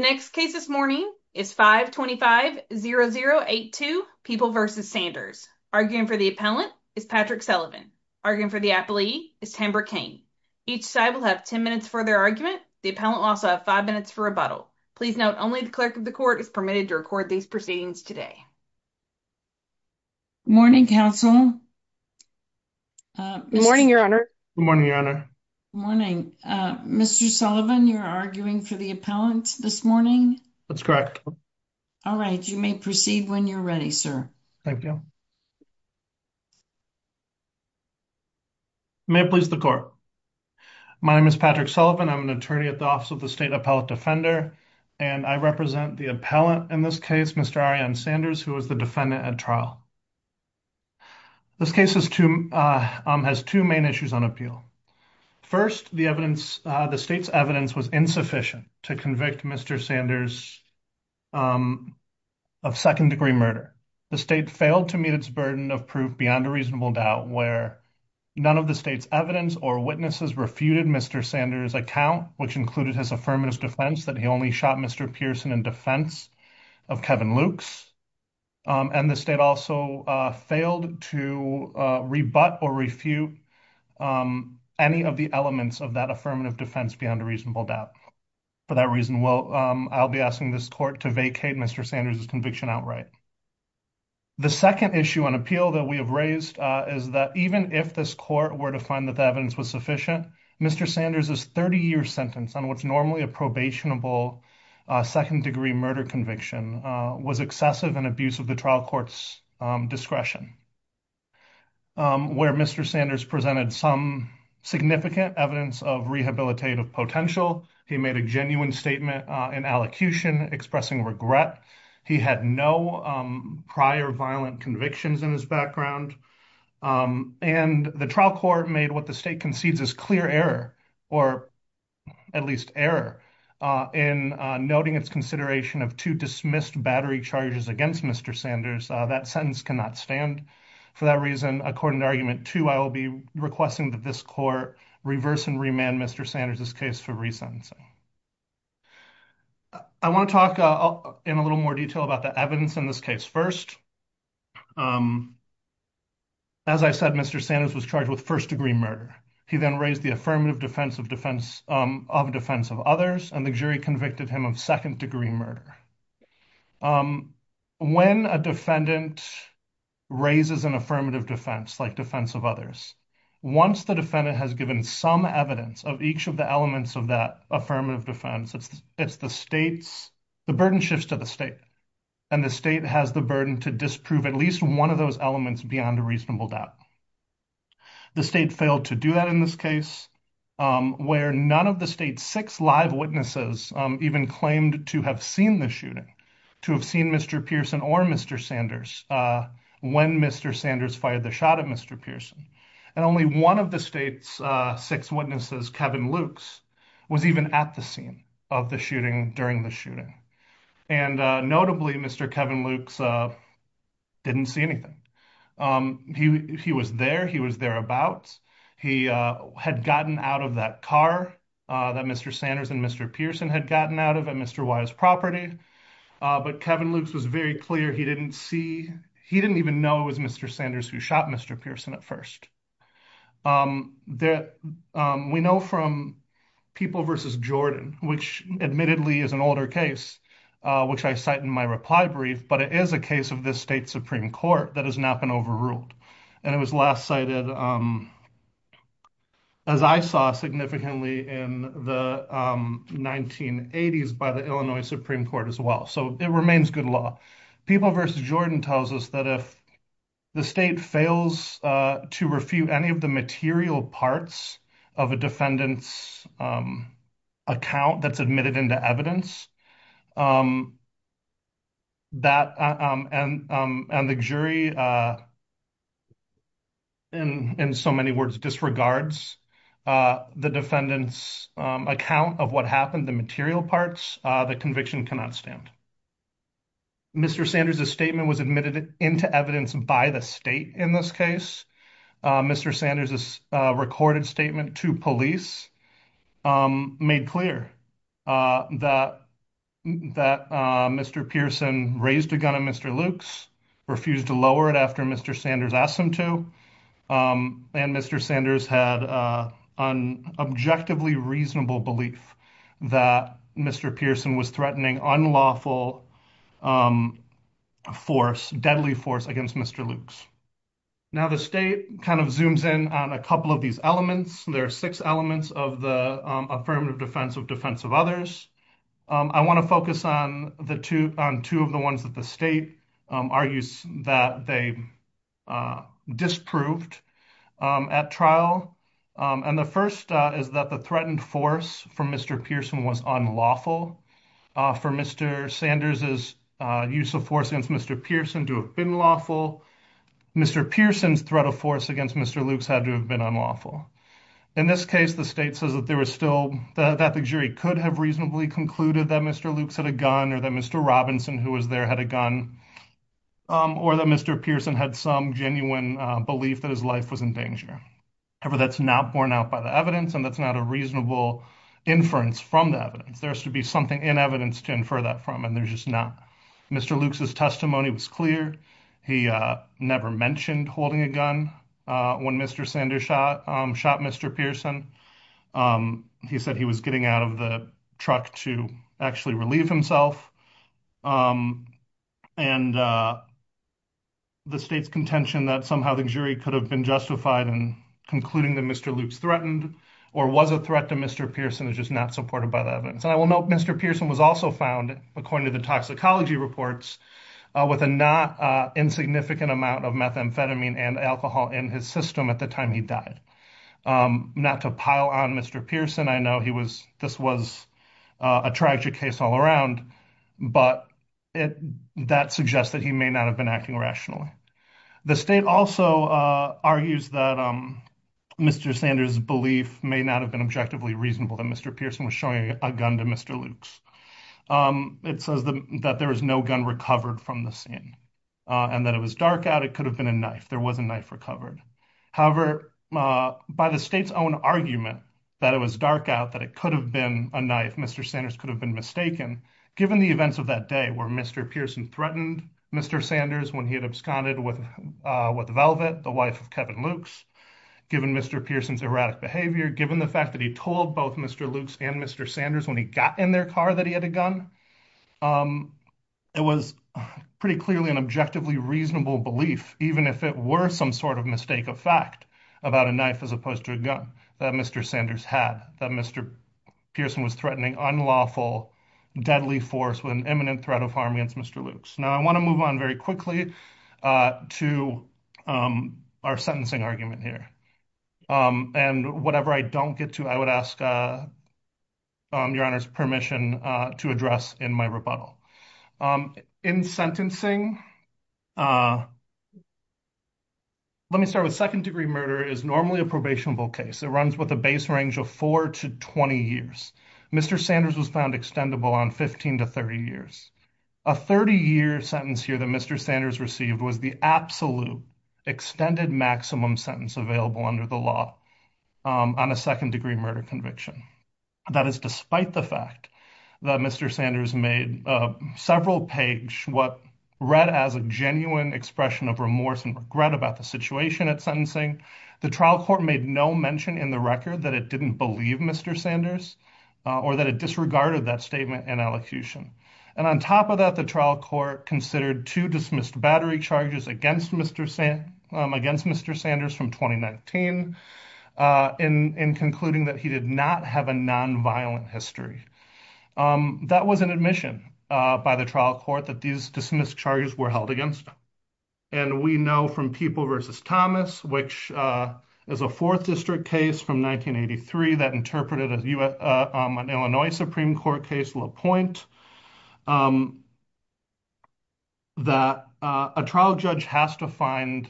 The next case this morning is 525-0082, People v. Sanders. Arguing for the appellant is Patrick Sullivan. Arguing for the appellee is Tambra Cain. Each side will have 10 minutes for their argument. The appellant will also have 5 minutes for rebuttal. Please note only the clerk of the court is permitted to record these proceedings today. Morning counsel. Good morning, your honor. Good morning, your honor. Good morning. Mr. Sullivan, you're arguing for the appellant this morning? That's correct. All right. You may proceed when you're ready, sir. Thank you. May it please the court. My name is Patrick Sullivan. I'm an attorney at the Office of the State Appellate Defender, and I represent the appellant in this case, Mr. Ariane Sanders, who is the defendant at trial. This case has two main issues on appeal. First, the state's evidence was insufficient to convict Mr. Sanders of second-degree murder. The state failed to meet its burden of proof beyond a reasonable doubt where none of the state's evidence or witnesses refuted Mr. Sanders' account, which included his affirmative defense that he only shot Mr. Pearson in defense of Kevin Lukes. And the state also failed to rebut or refute any of the elements of that affirmative defense beyond a reasonable doubt. For that reason, I'll be asking this court to vacate Mr. Sanders' conviction outright. The second issue on appeal that we have raised is that even if this court were to find that the evidence was sufficient, Mr. Sanders' 30-year sentence on what's normally a probationable second-degree murder conviction was excessive in abuse of the trial court's discretion. Where Mr. Sanders presented some significant evidence of rehabilitative potential, he made a genuine statement in allocution expressing regret, he had no prior violent convictions in his background, and the trial court made what the state concedes is clear error, or at least error, in noting its consideration of two dismissed battery charges against Mr. Sanders. That sentence cannot stand. For that reason, according to Argument 2, I will be requesting that this court reverse and remand Mr. Sanders' case for resentencing. I want to talk in a little more detail about the evidence in this case first. As I said, Mr. Sanders was charged with first-degree murder. He then raised the affirmative defense of defense of others, and the jury convicted him of second-degree murder. When a defendant raises an affirmative defense, like defense of others, once the defendant has given some evidence of each of the elements of that affirmative defense, it's the state's – the burden shifts to the state, and the state has the burden to disprove at least one of those elements beyond a reasonable doubt. The state failed to do that in this case, where none of the state's six live witnesses even claimed to have seen the shooting, to have seen Mr. Pearson or Mr. Sanders, when Mr. Sanders fired the shot at Mr. Pearson. And only one of the state's six witnesses, Kevin Lukes, was even at the scene of the shooting during the shooting. And notably, Mr. Kevin Lukes didn't see anything. He was there. He was thereabouts. He had gotten out of that car that Mr. Sanders and Mr. Pearson had gotten out of at Mr. Wyatt's property, but Kevin Lukes was very clear he didn't see – he didn't even know it was Mr. Sanders who shot Mr. Pearson at first. We know from People v. Jordan, which admittedly is an older case, which I cite in my reply brief, but it is a case of this state's Supreme Court that has not been overruled. And it was last cited, as I saw, significantly in the 1980s by the Illinois Supreme Court as well. So it remains good law. People v. Jordan tells us that if the state fails to refute any of the material parts of a defendant's account that's admitted into evidence, and the jury, in so many words, disregards the defendant's account of what happened, the material parts, the conviction cannot stand. Mr. Sanders' statement was admitted into evidence by the state in this case. Mr. Sanders' recorded statement to police made clear that Mr. Pearson raised a gun at Mr. Lukes, refused to lower it after Mr. Sanders asked him to, and Mr. Sanders had an objectively reasonable belief that Mr. Pearson was threatening unlawful force, deadly force, against Mr. Lukes. Now the state kind of zooms in on a couple of these elements. There are six elements of the affirmative defense of defense of others. I want to focus on two of the ones that the state argues that they disproved at trial. And the first is that the threatened force from Mr. Pearson was unlawful. For Mr. Sanders' use of force against Mr. Pearson to have been lawful, Mr. Pearson's threat of force against Mr. Lukes had to have been unlawful. In this case, the state says that there was still, that the jury could have reasonably concluded that Mr. Lukes had a gun, or that Mr. Robinson, who was there, had a gun, or that Mr. Pearson had some genuine belief that his life was in danger. However, that's not borne out by the evidence, and that's not a reasonable inference from the evidence. There has to be something in evidence to infer that from, and there's just not. Mr. Lukes' testimony was clear. He never mentioned holding a gun when Mr. Sanders shot Mr. Pearson. He said he was getting out of the truck to actually relieve himself. And the state's contention that somehow the jury could have been justified in concluding that Mr. Lukes threatened, or was a threat to Mr. Pearson, is just not supported by the And I will note Mr. Pearson was also found, according to the toxicology reports, with a not insignificant amount of methamphetamine and alcohol in his system at the time he died. Not to pile on Mr. Pearson, I know this was a tragic case all around, but that suggests that he may not have been acting rationally. The state also argues that Mr. Sanders' belief may not have been objectively reasonable that Mr. Pearson was showing a gun to Mr. Lukes. It says that there was no gun recovered from the scene, and that it was dark out, it could have been a knife. There was a knife recovered. However, by the state's own argument that it was dark out, that it could have been a knife, Mr. Sanders could have been mistaken, given the events of that day where Mr. Pearson threatened Mr. Sanders when he had absconded with Velvet, the wife of Kevin Lukes, given Mr. Pearson's erratic behavior, given the fact that he told both Mr. Lukes and Mr. Sanders when he got in their car that he had a gun, it was pretty clearly an objectively reasonable belief even if it were some sort of mistake of fact about a knife as opposed to a gun that Mr. Sanders had, that Mr. Pearson was threatening unlawful, deadly force with an imminent threat of harm against Mr. Lukes. Now, I want to move on very quickly to our sentencing argument here. And whatever I don't get to, I would ask Your Honor's permission to address in my rebuttal. In sentencing, let me start with second-degree murder is normally a probationable case. It runs with a base range of four to 20 years. Mr. Sanders was found extendable on 15 to 30 years. A 30-year sentence here that Mr. Sanders received was the absolute extended maximum sentence available under the law on a second-degree murder conviction. That is despite the fact that Mr. Sanders made several page what read as a genuine expression of remorse and regret about the situation at sentencing, the trial court made no mention in the record that it didn't believe Mr. Sanders or that it disregarded that statement in elocution. And on top of that, the trial court considered two dismissed battery charges against Mr. Sanders from 2019 in concluding that he did not have a nonviolent history. That was an admission by the trial court that these dismissed charges were held against him. And we know from People v. Thomas, which is a 4th District case from 1983 that interpreted as an Illinois Supreme Court case, LaPointe, that a trial judge has to find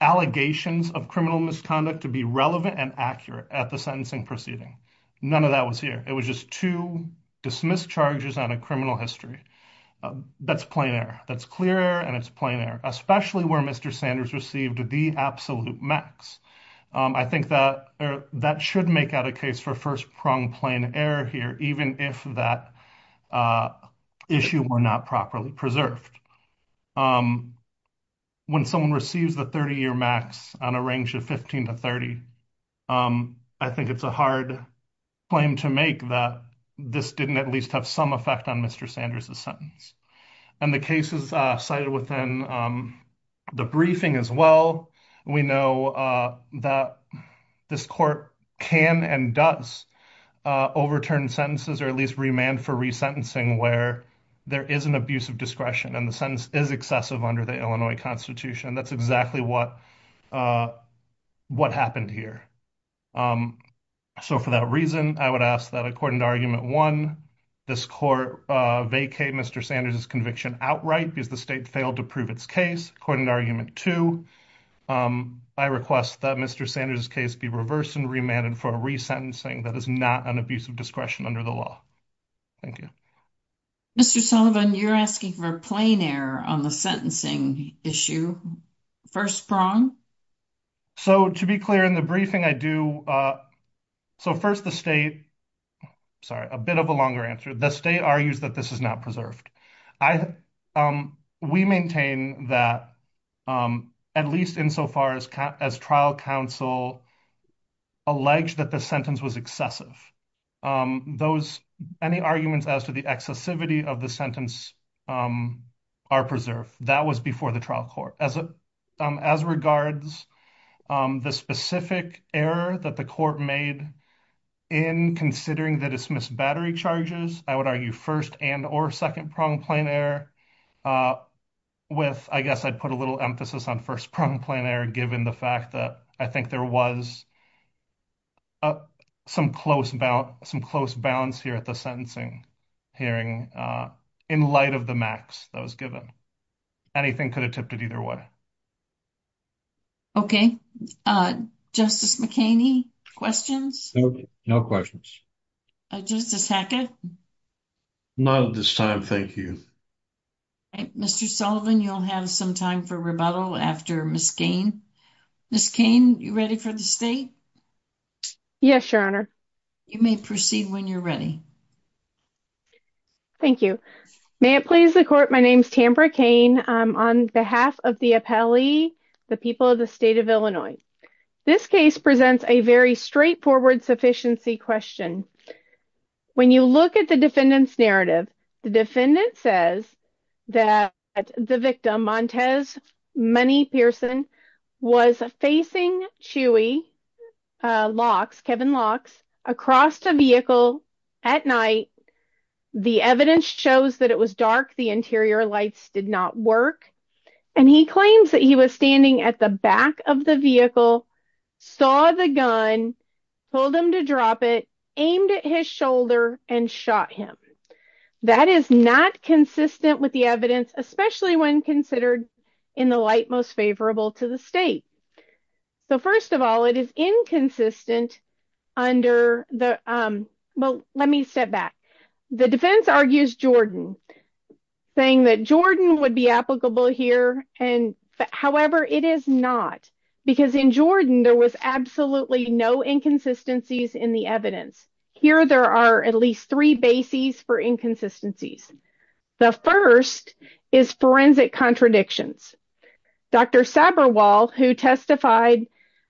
allegations of criminal misconduct to be relevant and accurate at the sentencing proceeding. None of that was here. It was just two dismissed charges on a criminal history. That's plain error. That's clear error and it's plain error, especially where Mr. Sanders received the absolute max. I think that should make out a case for first-pronged plain error here, even if that issue were not properly preserved. When someone receives the 30-year max on a range of 15 to 30, I think it's a hard claim to make that this didn't at least have some effect on Mr. Sanders' sentence. And the case is cited within the briefing as well. We know that this court can and does overturn sentences or at least remand for resentencing where there is an abuse of discretion and the sentence is excessive under the Illinois Constitution. That's exactly what happened here. So for that reason, I would ask that according to Argument 1, this court vacate Mr. Sanders' conviction outright because the state failed to prove its case. According to Argument 2, I request that Mr. Sanders' case be reversed and remanded for resentencing that is not an abuse of discretion under the law. Thank you. Mr. Sullivan, you're asking for plain error on the sentencing issue. First-pronged? So, to be clear, in the briefing I do, so first the state, sorry, a bit of a longer answer, the state argues that this is not preserved. I, we maintain that at least insofar as trial counsel alleged that the sentence was excessive, those, any arguments as to the excessivity of the sentence are preserved. That was before the trial court. As regards the specific error that the court made in considering the dismissed battery charges, I would argue first and or second-pronged plain error with, I guess I'd put a little emphasis on first-pronged plain error given the fact that I think there was some close balance, some close balance here at the sentencing hearing in light of the max that was given. Anything could have tipped it either way. Okay. Justice McKinney, questions? No questions. Justice Hackett? Not at this time, thank you. Mr. Sullivan, you'll have some time for rebuttal after Ms. Cain. Ms. Cain, you ready for the state? Yes, Your Honor. You may proceed when you're ready. Thank you. May it please the court, my name is Tamara Cain. On behalf of the appellee, the people of the state of Illinois, this case presents a very straightforward sufficiency question. When you look at the defendant's narrative, the defendant says that the victim, Montez Money Pearson, was facing Chewy Locks, Kevin Locks, across the vehicle at night. The evidence shows that it was dark, the interior lights did not work. He claims that he was standing at the back of the vehicle, saw the gun, told him to drop it, aimed at his shoulder, and shot him. That is not consistent with the evidence, especially when considered in the light most favorable to the state. First of all, it is inconsistent under the, well, let me step back. The defense argues Jordan, saying that Jordan would be applicable here, however, it is not. Because in Jordan, there was absolutely no inconsistencies in the evidence. Here there are at least three bases for inconsistencies. The first is forensic contradictions. Dr. Sabarwal, who testified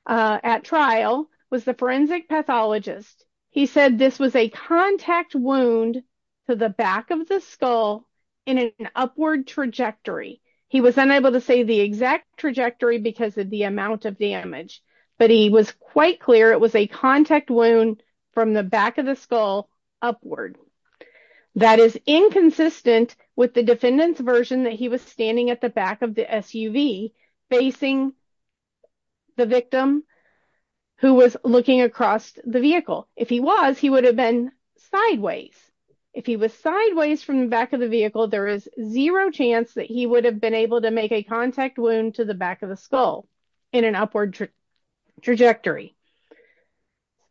at trial, was the forensic pathologist. He said this was a contact wound to the back of the skull in an upward trajectory. He was unable to say the exact trajectory because of the amount of damage, but he was quite clear it was a contact wound from the back of the skull upward. That is inconsistent with the defendant's version that he was standing at the back of If he was, he would have been sideways. If he was sideways from the back of the vehicle, there is zero chance that he would have been able to make a contact wound to the back of the skull in an upward trajectory.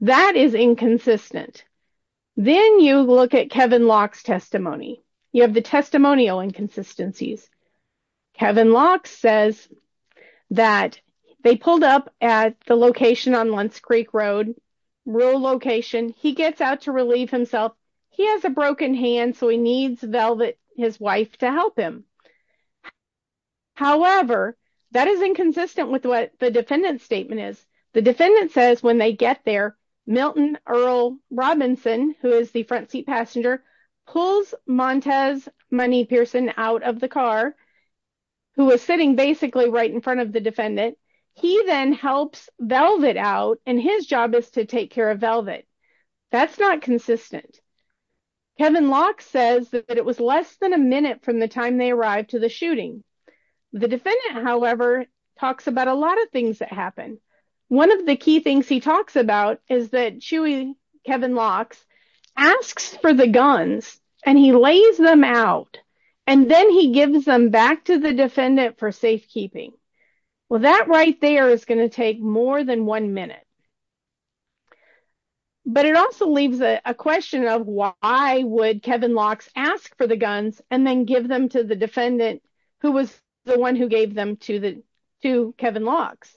That is inconsistent. Then you look at Kevin Locke's testimony. You have the testimonial inconsistencies. Kevin Locke says that they pulled up at the location on Lentz Creek Road, rural location. He gets out to relieve himself. He has a broken hand, so he needs his wife to help him. However, that is inconsistent with what the defendant's statement is. The defendant says when they get there, Milton Earl Robinson, who is the front seat passenger, pulls Montez Money Pearson out of the car, who was sitting basically right in front of the defendant. He then helps Velvet out, and his job is to take care of Velvet. That is not consistent. Kevin Locke says that it was less than a minute from the time they arrived to the shooting. The defendant, however, talks about a lot of things that happen. One of the key things he talks about is that Chewie, Kevin Locke, asks for the guns, and he lays them out. Then he gives them back to the defendant for safekeeping. That right there is going to take more than one minute. But it also leaves a question of why would Kevin Locke ask for the guns and then give them to the defendant, who was the one who gave them to Kevin Locke?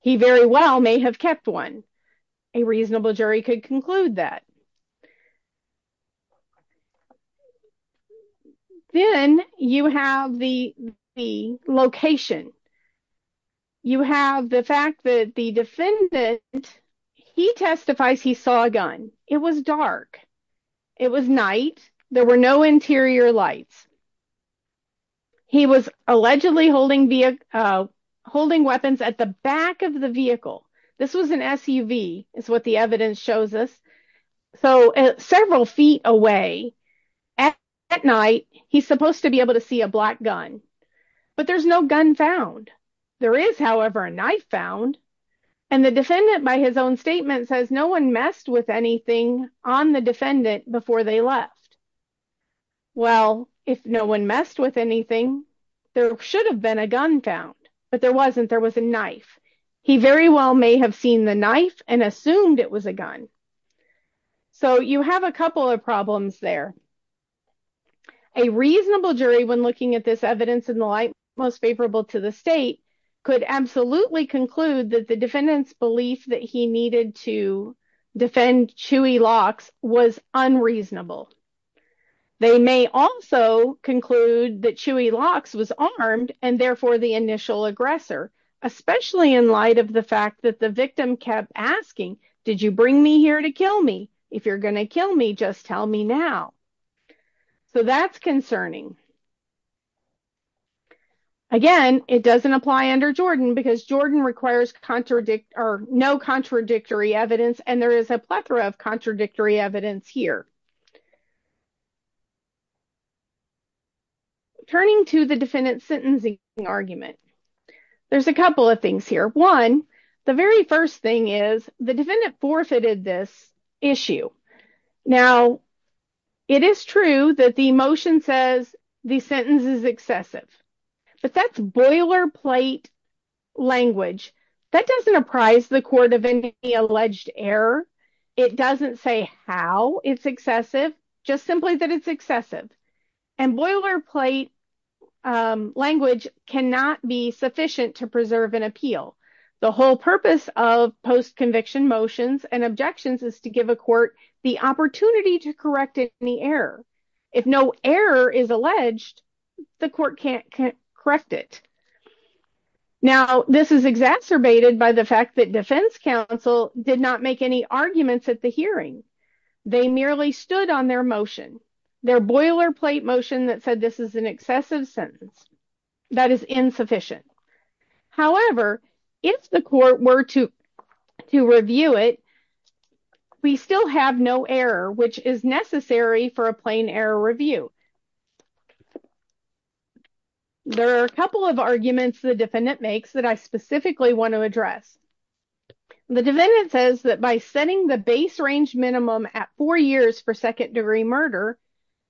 He very well may have kept one. A reasonable jury could conclude that. Then you have the location. You have the fact that the defendant, he testifies he saw a gun. It was dark. It was night. There were no interior lights. He was allegedly holding weapons at the back of the vehicle. This was an SUV, is what the evidence shows us, so several feet away at night. He's supposed to be able to see a black gun, but there's no gun found. There is, however, a knife found, and the defendant, by his own statement, says no one messed with anything on the defendant before they left. Well, if no one messed with anything, there should have been a gun found, but there wasn't. There was a knife. He very well may have seen the knife and assumed it was a gun. So you have a couple of problems there. A reasonable jury, when looking at this evidence in the light most favorable to the state, could absolutely conclude that the defendant's belief that he needed to defend Chewy Locke was unreasonable. They may also conclude that Chewy Locke was armed and therefore the initial aggressor, especially in light of the fact that the victim kept asking, did you bring me here to kill me? If you're going to kill me, just tell me now. So that's concerning. Again, it doesn't apply under Jordan because Jordan requires no contradictory evidence, and there is a plethora of contradictory evidence here. Now, turning to the defendant's sentencing argument, there's a couple of things here. One, the very first thing is the defendant forfeited this issue. Now, it is true that the motion says the sentence is excessive, but that's boilerplate language. That doesn't apprise the court of any alleged error. It doesn't say how it's excessive. Just simply that it's excessive. And boilerplate language cannot be sufficient to preserve an appeal. The whole purpose of post-conviction motions and objections is to give a court the opportunity to correct any error. If no error is alleged, the court can't correct it. Now, this is exacerbated by the fact that defense counsel did not make any arguments at the hearing. They merely stood on their motion. Their boilerplate motion that said this is an excessive sentence. That is insufficient. However, if the court were to review it, we still have no error, which is necessary for a plain error review. There are a couple of arguments the defendant makes that I specifically want to address. The defendant says that by setting the base range minimum at four years for second-degree murder,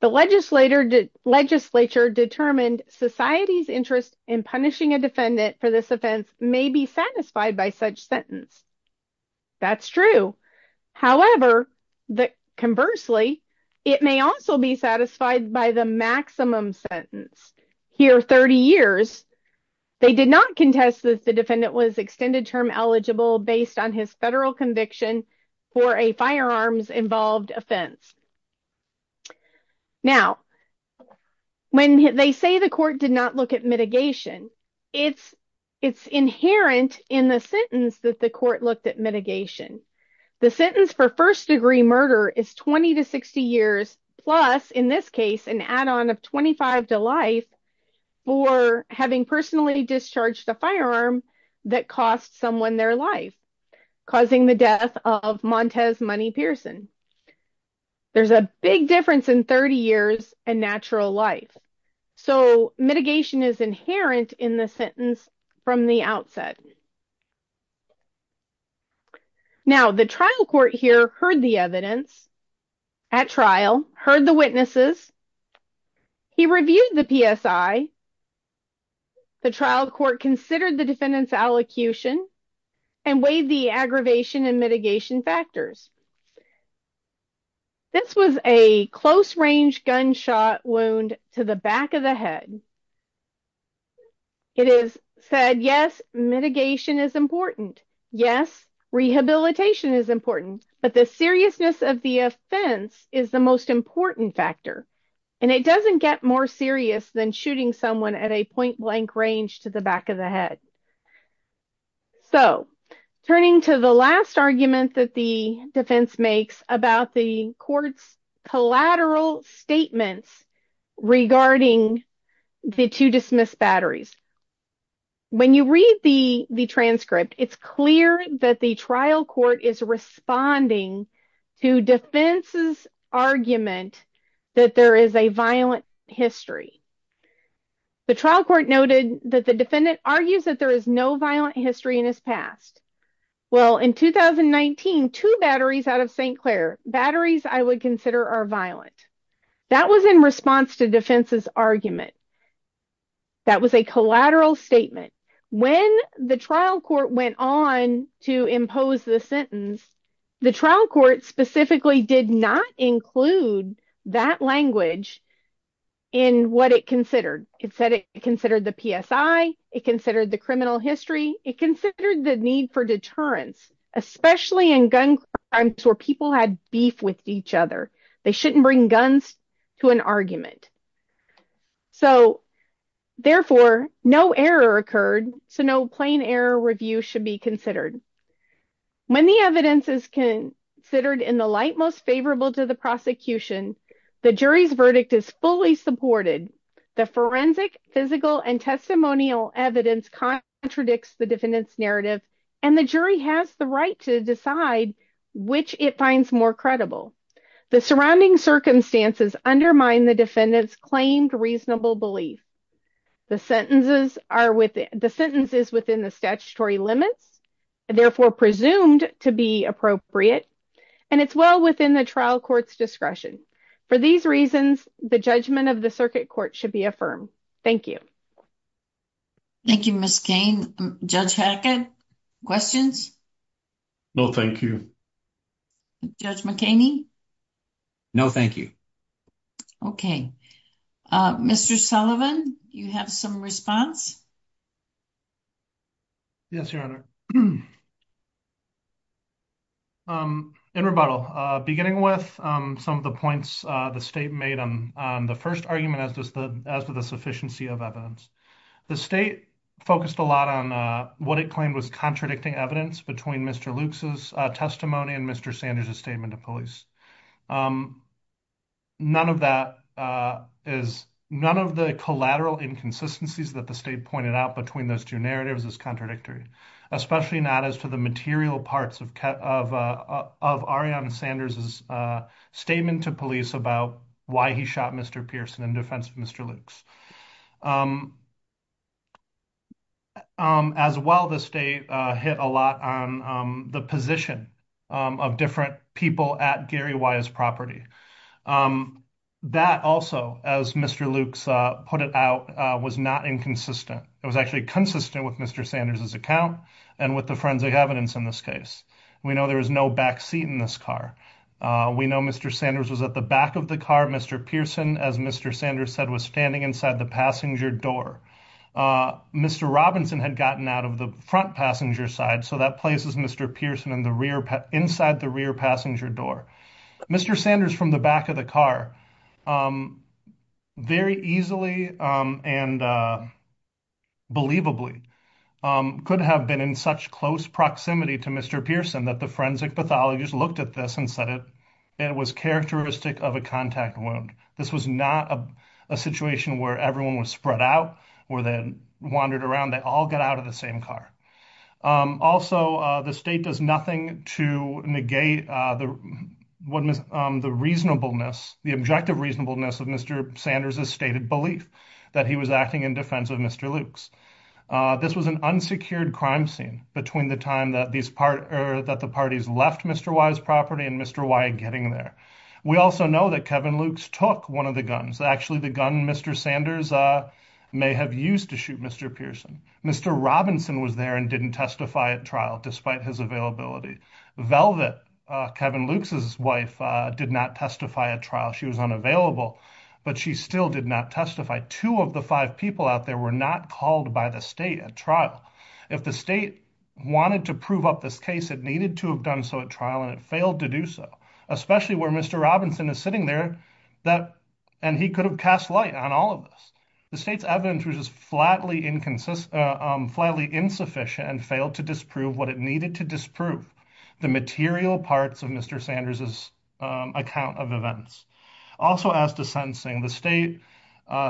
the legislature determined society's interest in punishing a defendant for this offense may be satisfied by such sentence. That's true. However, conversely, it may also be satisfied by the maximum sentence. Here, 30 years. They did not contest that the defendant was extended term eligible based on his federal conviction for a firearms-involved offense. Now, when they say the court did not look at mitigation, it's inherent in the sentence that the court looked at mitigation. The sentence for first-degree murder is 20 to 60 years, plus, in this case, an add-on of 25 to life for having personally discharged a firearm that cost someone their life, causing the death of Montez Money Pearson. There's a big difference in 30 years and natural life. So, mitigation is inherent in the sentence from the outset. Now, the trial court here heard the evidence at trial, heard the witnesses. He reviewed the PSI. The trial court considered the defendant's allocution and weighed the aggravation and mitigation factors. This was a close-range gunshot wound to the back of the head. It is said, yes, mitigation is important. Yes, rehabilitation is important. But the seriousness of the offense is the most important factor. And it doesn't get more serious than shooting someone at a point-blank range to the back of the head. So, turning to the last argument that the defense makes about the court's collateral statements regarding the two dismissed batteries. When you read the transcript, it's clear that the trial court is responding to defense's argument that there is a violent history. The trial court noted that the defendant argues that there is no violent history in his past. Well, in 2019, two batteries out of St. Clair, batteries I would consider are violent. That was in response to defense's argument. That was a collateral statement. When the trial court went on to impose the sentence, the trial court specifically did not include that language in what it considered. It said it considered the PSI, it considered the criminal history, it considered the need for deterrence, especially in gun crimes where people had beef with each other. They shouldn't bring guns to an argument. So, therefore, no error occurred, so no plain error review should be considered. When the evidence is considered in the light most favorable to the prosecution, the jury's verdict is fully supported. The forensic, physical, and testimonial evidence contradicts the defendant's narrative, and the jury has the right to decide which it finds more credible. The surrounding circumstances undermine the defendant's claimed reasonable belief. The sentence is within the statutory limits, therefore presumed to be appropriate, and it's well within the trial court's discretion. For these reasons, the judgment of the circuit court should be affirmed. Thank you. Thank you, Ms. Cain. Judge Hackett, questions? No, thank you. Judge McKaney? No, thank you. Okay, Mr. Sullivan, you have some response? Yes, Your Honor. In rebuttal, beginning with some of the points the state made on the first argument as to the sufficiency of evidence. The state focused a lot on what it claimed was contradicting evidence between Mr. Lukes' testimony and Mr. Sanders' statement to police. None of the collateral inconsistencies that the state pointed out between those two narratives is contradictory, especially not as to the material parts of Arianna Sanders' statement to police about why he shot Mr. Pearson in defense of Mr. Lukes. As well, the state hit a lot on the position of different people at Gary Weye's property. That also, as Mr. Lukes put it out, was not inconsistent. It was actually consistent with Mr. Sanders' account and with the forensic evidence in this case. We know there was no backseat in this car. We know Mr. Sanders was at the back of the car. Mr. Pearson, as Mr. Sanders said, was standing inside the passenger door. Mr. Robinson had gotten out of the front passenger side, so that places Mr. Pearson inside the rear passenger door. Mr. Sanders from the back of the car very easily and believably could have been in such close proximity to Mr. Pearson that the forensic pathologist looked at this and said it was characteristic of a contact wound. This was not a situation where everyone was spread out or they wandered around. They all got out of the same car. Also, the state does nothing to negate the reasonableness, the objective reasonableness of Mr. Sanders' stated belief that he was acting in defense of Mr. Lukes. This was an unsecured crime scene between the time that the parties left Mr. Weye's property and Mr. Weye getting there. We also know that Kevin Lukes took one of the guns, actually the gun Mr. Sanders may have used to shoot Mr. Pearson. Mr. Robinson was there and didn't testify at trial despite his availability. Velvet, Kevin Lukes' wife, did not testify at trial. She was unavailable, but she still did not testify. Two of the five people out there were not called by the state at trial. If the state wanted to prove up this case, it needed to have done so at trial, and it to do so, especially where Mr. Robinson is sitting there and he could have cast light on all of this. The state's evidence was just flatly insufficient and failed to disprove what it needed to disprove, the material parts of Mr. Sanders' account of events. Also, as to sentencing, the state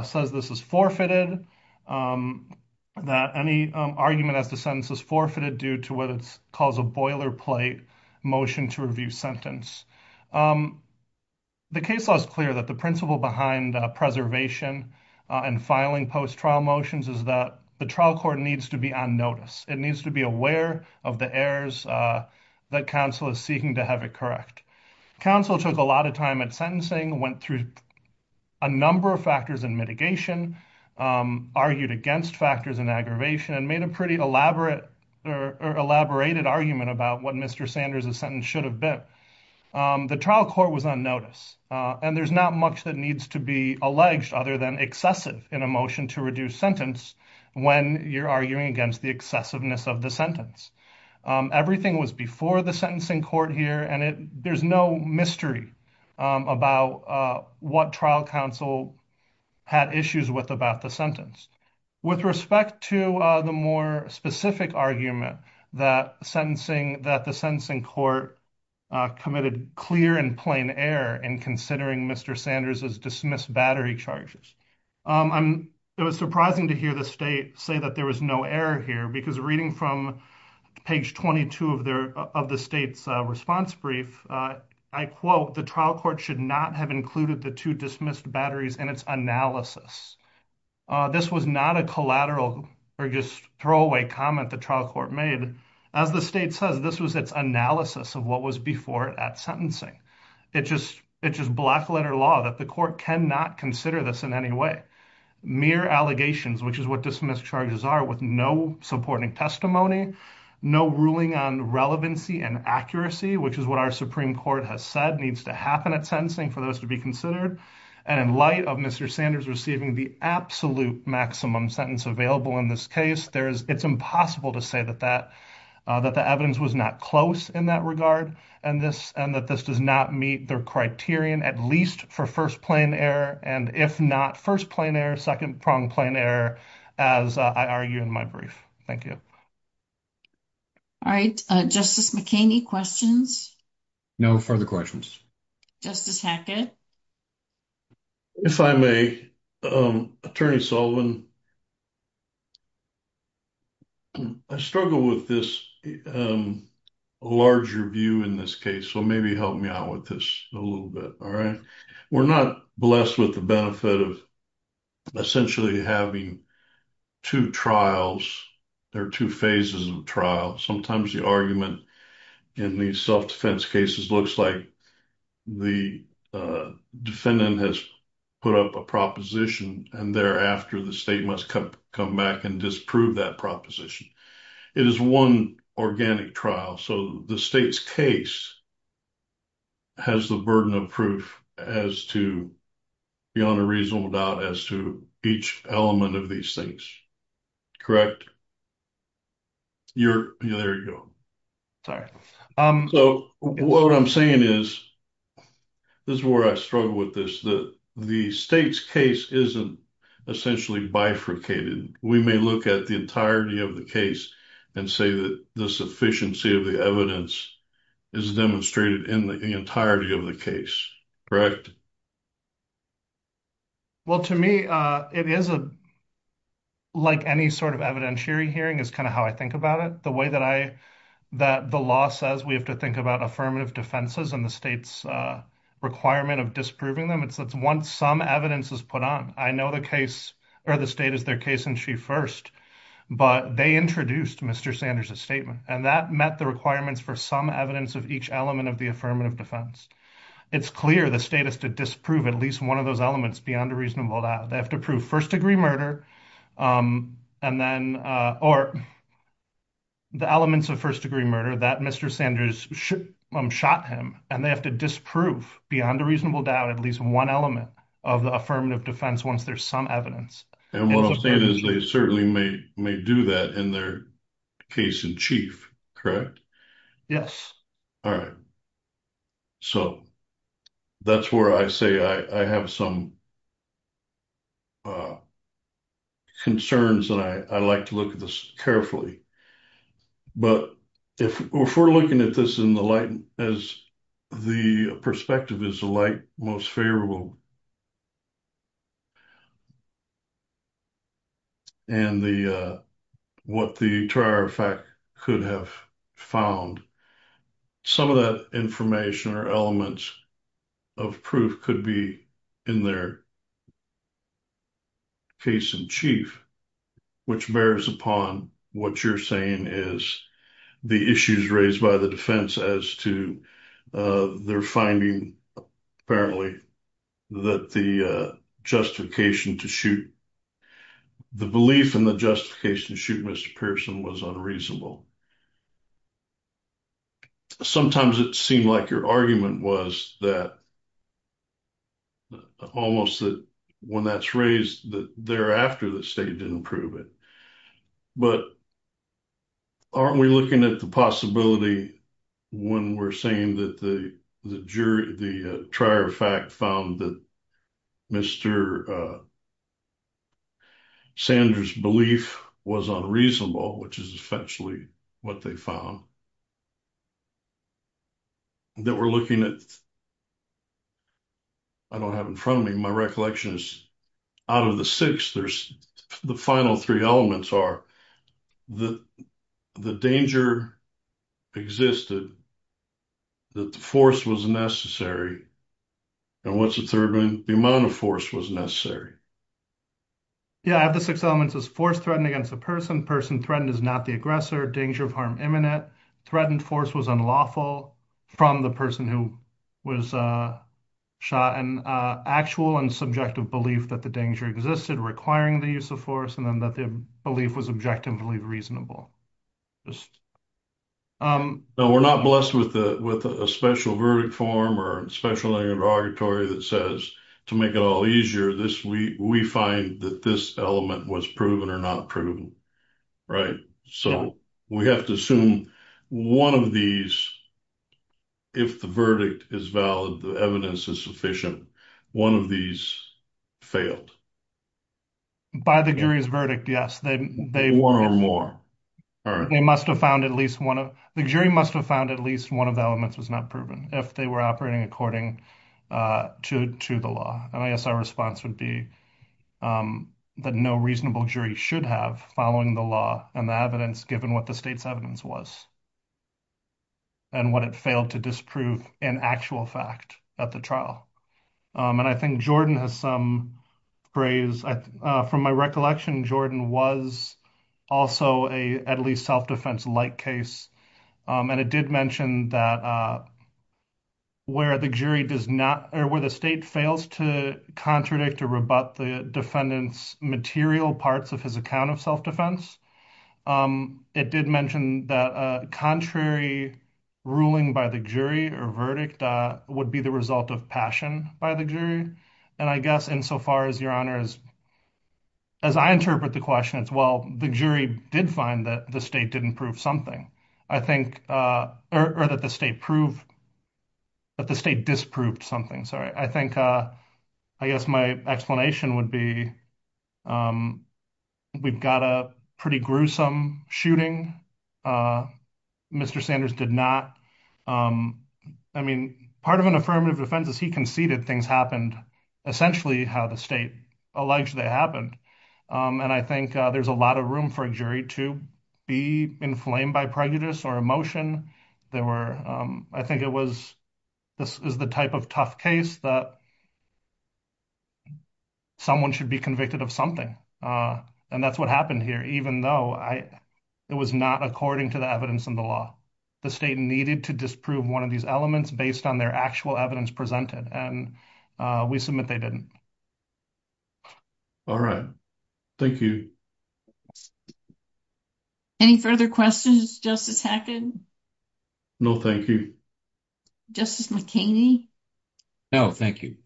says this is forfeited, that any argument as to sentence is forfeited due to what it calls a boilerplate motion to review sentence. The case law is clear that the principle behind preservation and filing post-trial motions is that the trial court needs to be on notice. It needs to be aware of the errors that counsel is seeking to have it correct. Counsel took a lot of time at sentencing, went through a number of factors in mitigation, argued against factors in aggravation, and made a pretty elaborate or elaborated argument about what Mr. Sanders' sentence should have been. The trial court was on notice, and there's not much that needs to be alleged other than excessive in a motion to reduce sentence when you're arguing against the excessiveness of the sentence. Everything was before the sentencing court here, and there's no mystery about what trial counsel had issues with about the sentence. With respect to the more specific argument that the sentencing court committed clear and plain error in considering Mr. Sanders' dismissed battery charges, it was surprising to hear the state say that there was no error here because reading from page 22 of the state's response brief, I quote, the trial court should not have included the two dismissed batteries in its analysis. This was not a collateral or just throwaway comment the trial court made. As the state says, this was its analysis of what was before at sentencing. It's just black letter law that the court cannot consider this in any way. Mere allegations, which is what dismissed charges are with no supporting testimony, no ruling on relevancy and accuracy, which is what our Supreme Court has said needs to happen at sentencing for those to be considered. And in light of Mr. Sanders receiving the absolute maximum sentence available in this case, it's impossible to say that the evidence was not close in that regard and that this does not meet their criterion, at least for first-plane error, and if not first-plane error, second-pronged plane error, as I argue in my brief. Thank you. All right. Justice McKinney, questions? No further questions. Justice Hackett? If I may, Attorney Sullivan, I struggle with this larger view in this case, so maybe help me out with this a little bit, all right? We're not blessed with the benefit of essentially having two trials. There are two phases of trial. Sometimes the argument in these self-defense cases looks like the defendant has put up a proposition, and thereafter, the state must come back and disprove that proposition. It is one organic trial, so the state's case has the burden of proof as to, beyond a reasonable doubt, as to each element of these things. Correct? There you go. So what I'm saying is, this is where I struggle with this, that the state's case isn't essentially bifurcated. We may look at the entirety of the case and say that the sufficiency of the evidence is demonstrated in the entirety of the case, correct? Well, to me, it is, like any sort of evidentiary hearing, is kind of how I think about it. The way that I, that the law says we have to think about affirmative defenses and the state's requirement of disproving them, it's once some evidence is put on. I know the case, or the state is their case in chief first, but they introduced Mr. Sanders' statement, and that met the requirements for some evidence of each element of the affirmative defense. It's clear the state has to disprove at least one of those elements beyond a reasonable doubt. They have to prove first-degree murder, and then, or the elements of first-degree murder that Mr. Sanders shot him, and they have to disprove, beyond a reasonable doubt, at least one element of the affirmative defense once there's some evidence. And what I'm saying is they certainly may do that in their case in chief, correct? Yes. All right. So, that's where I say I have some concerns, and I like to look at this carefully. But if we're looking at this in the light, as the perspective is the light most favorable, and what the trier fact could have found, some of that information or elements of proof could be in their case in chief, which bears upon what you're saying is the issues raised by the defense as to their finding, apparently, that the justification to shoot, the belief in the justification to shoot Mr. Pearson was unreasonable. Sometimes it seemed like your argument was that, almost that when that's raised, that thereafter the state didn't prove it. But aren't we looking at the possibility when we're saying that the jury, the trier fact found that Mr. Sanders' belief was unreasonable, which is essentially what they found, that we're looking at, I don't have in front of me, my recollection is out of the six, there's the final three elements are, the danger existed, that the force was necessary, and what's the third one? The amount of force was necessary. Yeah, I have the six elements as force threatened against the person, person threatened is not the aggressor, danger of harm imminent, threatened force was unlawful from the person who was shot, and actual and subjective belief that the danger existed requiring the use of force, and then that the belief was objectively reasonable. Now, we're not blessed with a special verdict form or a special interrogatory that says to make it all easier, we find that this element was proven or not proven, right? So we have to assume one of these, if the verdict is valid, the evidence is sufficient, one of these failed. By the jury's verdict, yes. One or more. They must have found at least one of, the jury must have found at least one of the elements was not proven if they were operating according to the law. And I guess our response would be that no reasonable jury should have following the law and the evidence given what the state's evidence was, and what it failed to disprove in actual fact at the trial. And I think Jordan has some praise. From my recollection, Jordan was also a, at least self-defense like case. And it did mention that where the jury does not, or where the state fails to contradict or rebut the defendant's material parts of his account of self-defense, it did mention that a contrary ruling by the jury or verdict would be the result of passion by the jury. And I guess insofar as Your Honor, as I interpret the question as well, the jury did find that the state didn't prove something. I think, or that the state proved, that the state disproved something, sorry. I think, I guess my explanation would be, we've got a pretty gruesome shooting. Mr. Sanders did not. I mean, part of an affirmative defense is he conceded things happened essentially how the state alleged they happened. And I think there's a lot of room for a jury to be inflamed by prejudice or emotion. There were, I think it was, this is the type of tough case that someone should be convicted of something. And that's what happened here, even though it was not according to the evidence in the law. The state needed to disprove one of these elements based on their actual evidence presented. And we submit they didn't. All right. Thank you. Any further questions, Justice Hackett? No, thank you. Justice McKinney? No, thank you.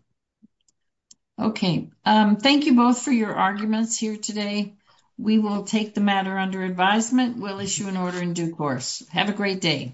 Okay. Thank you both for your arguments here today. We will take the matter under advisement. We'll issue an order in due course. Have a great day.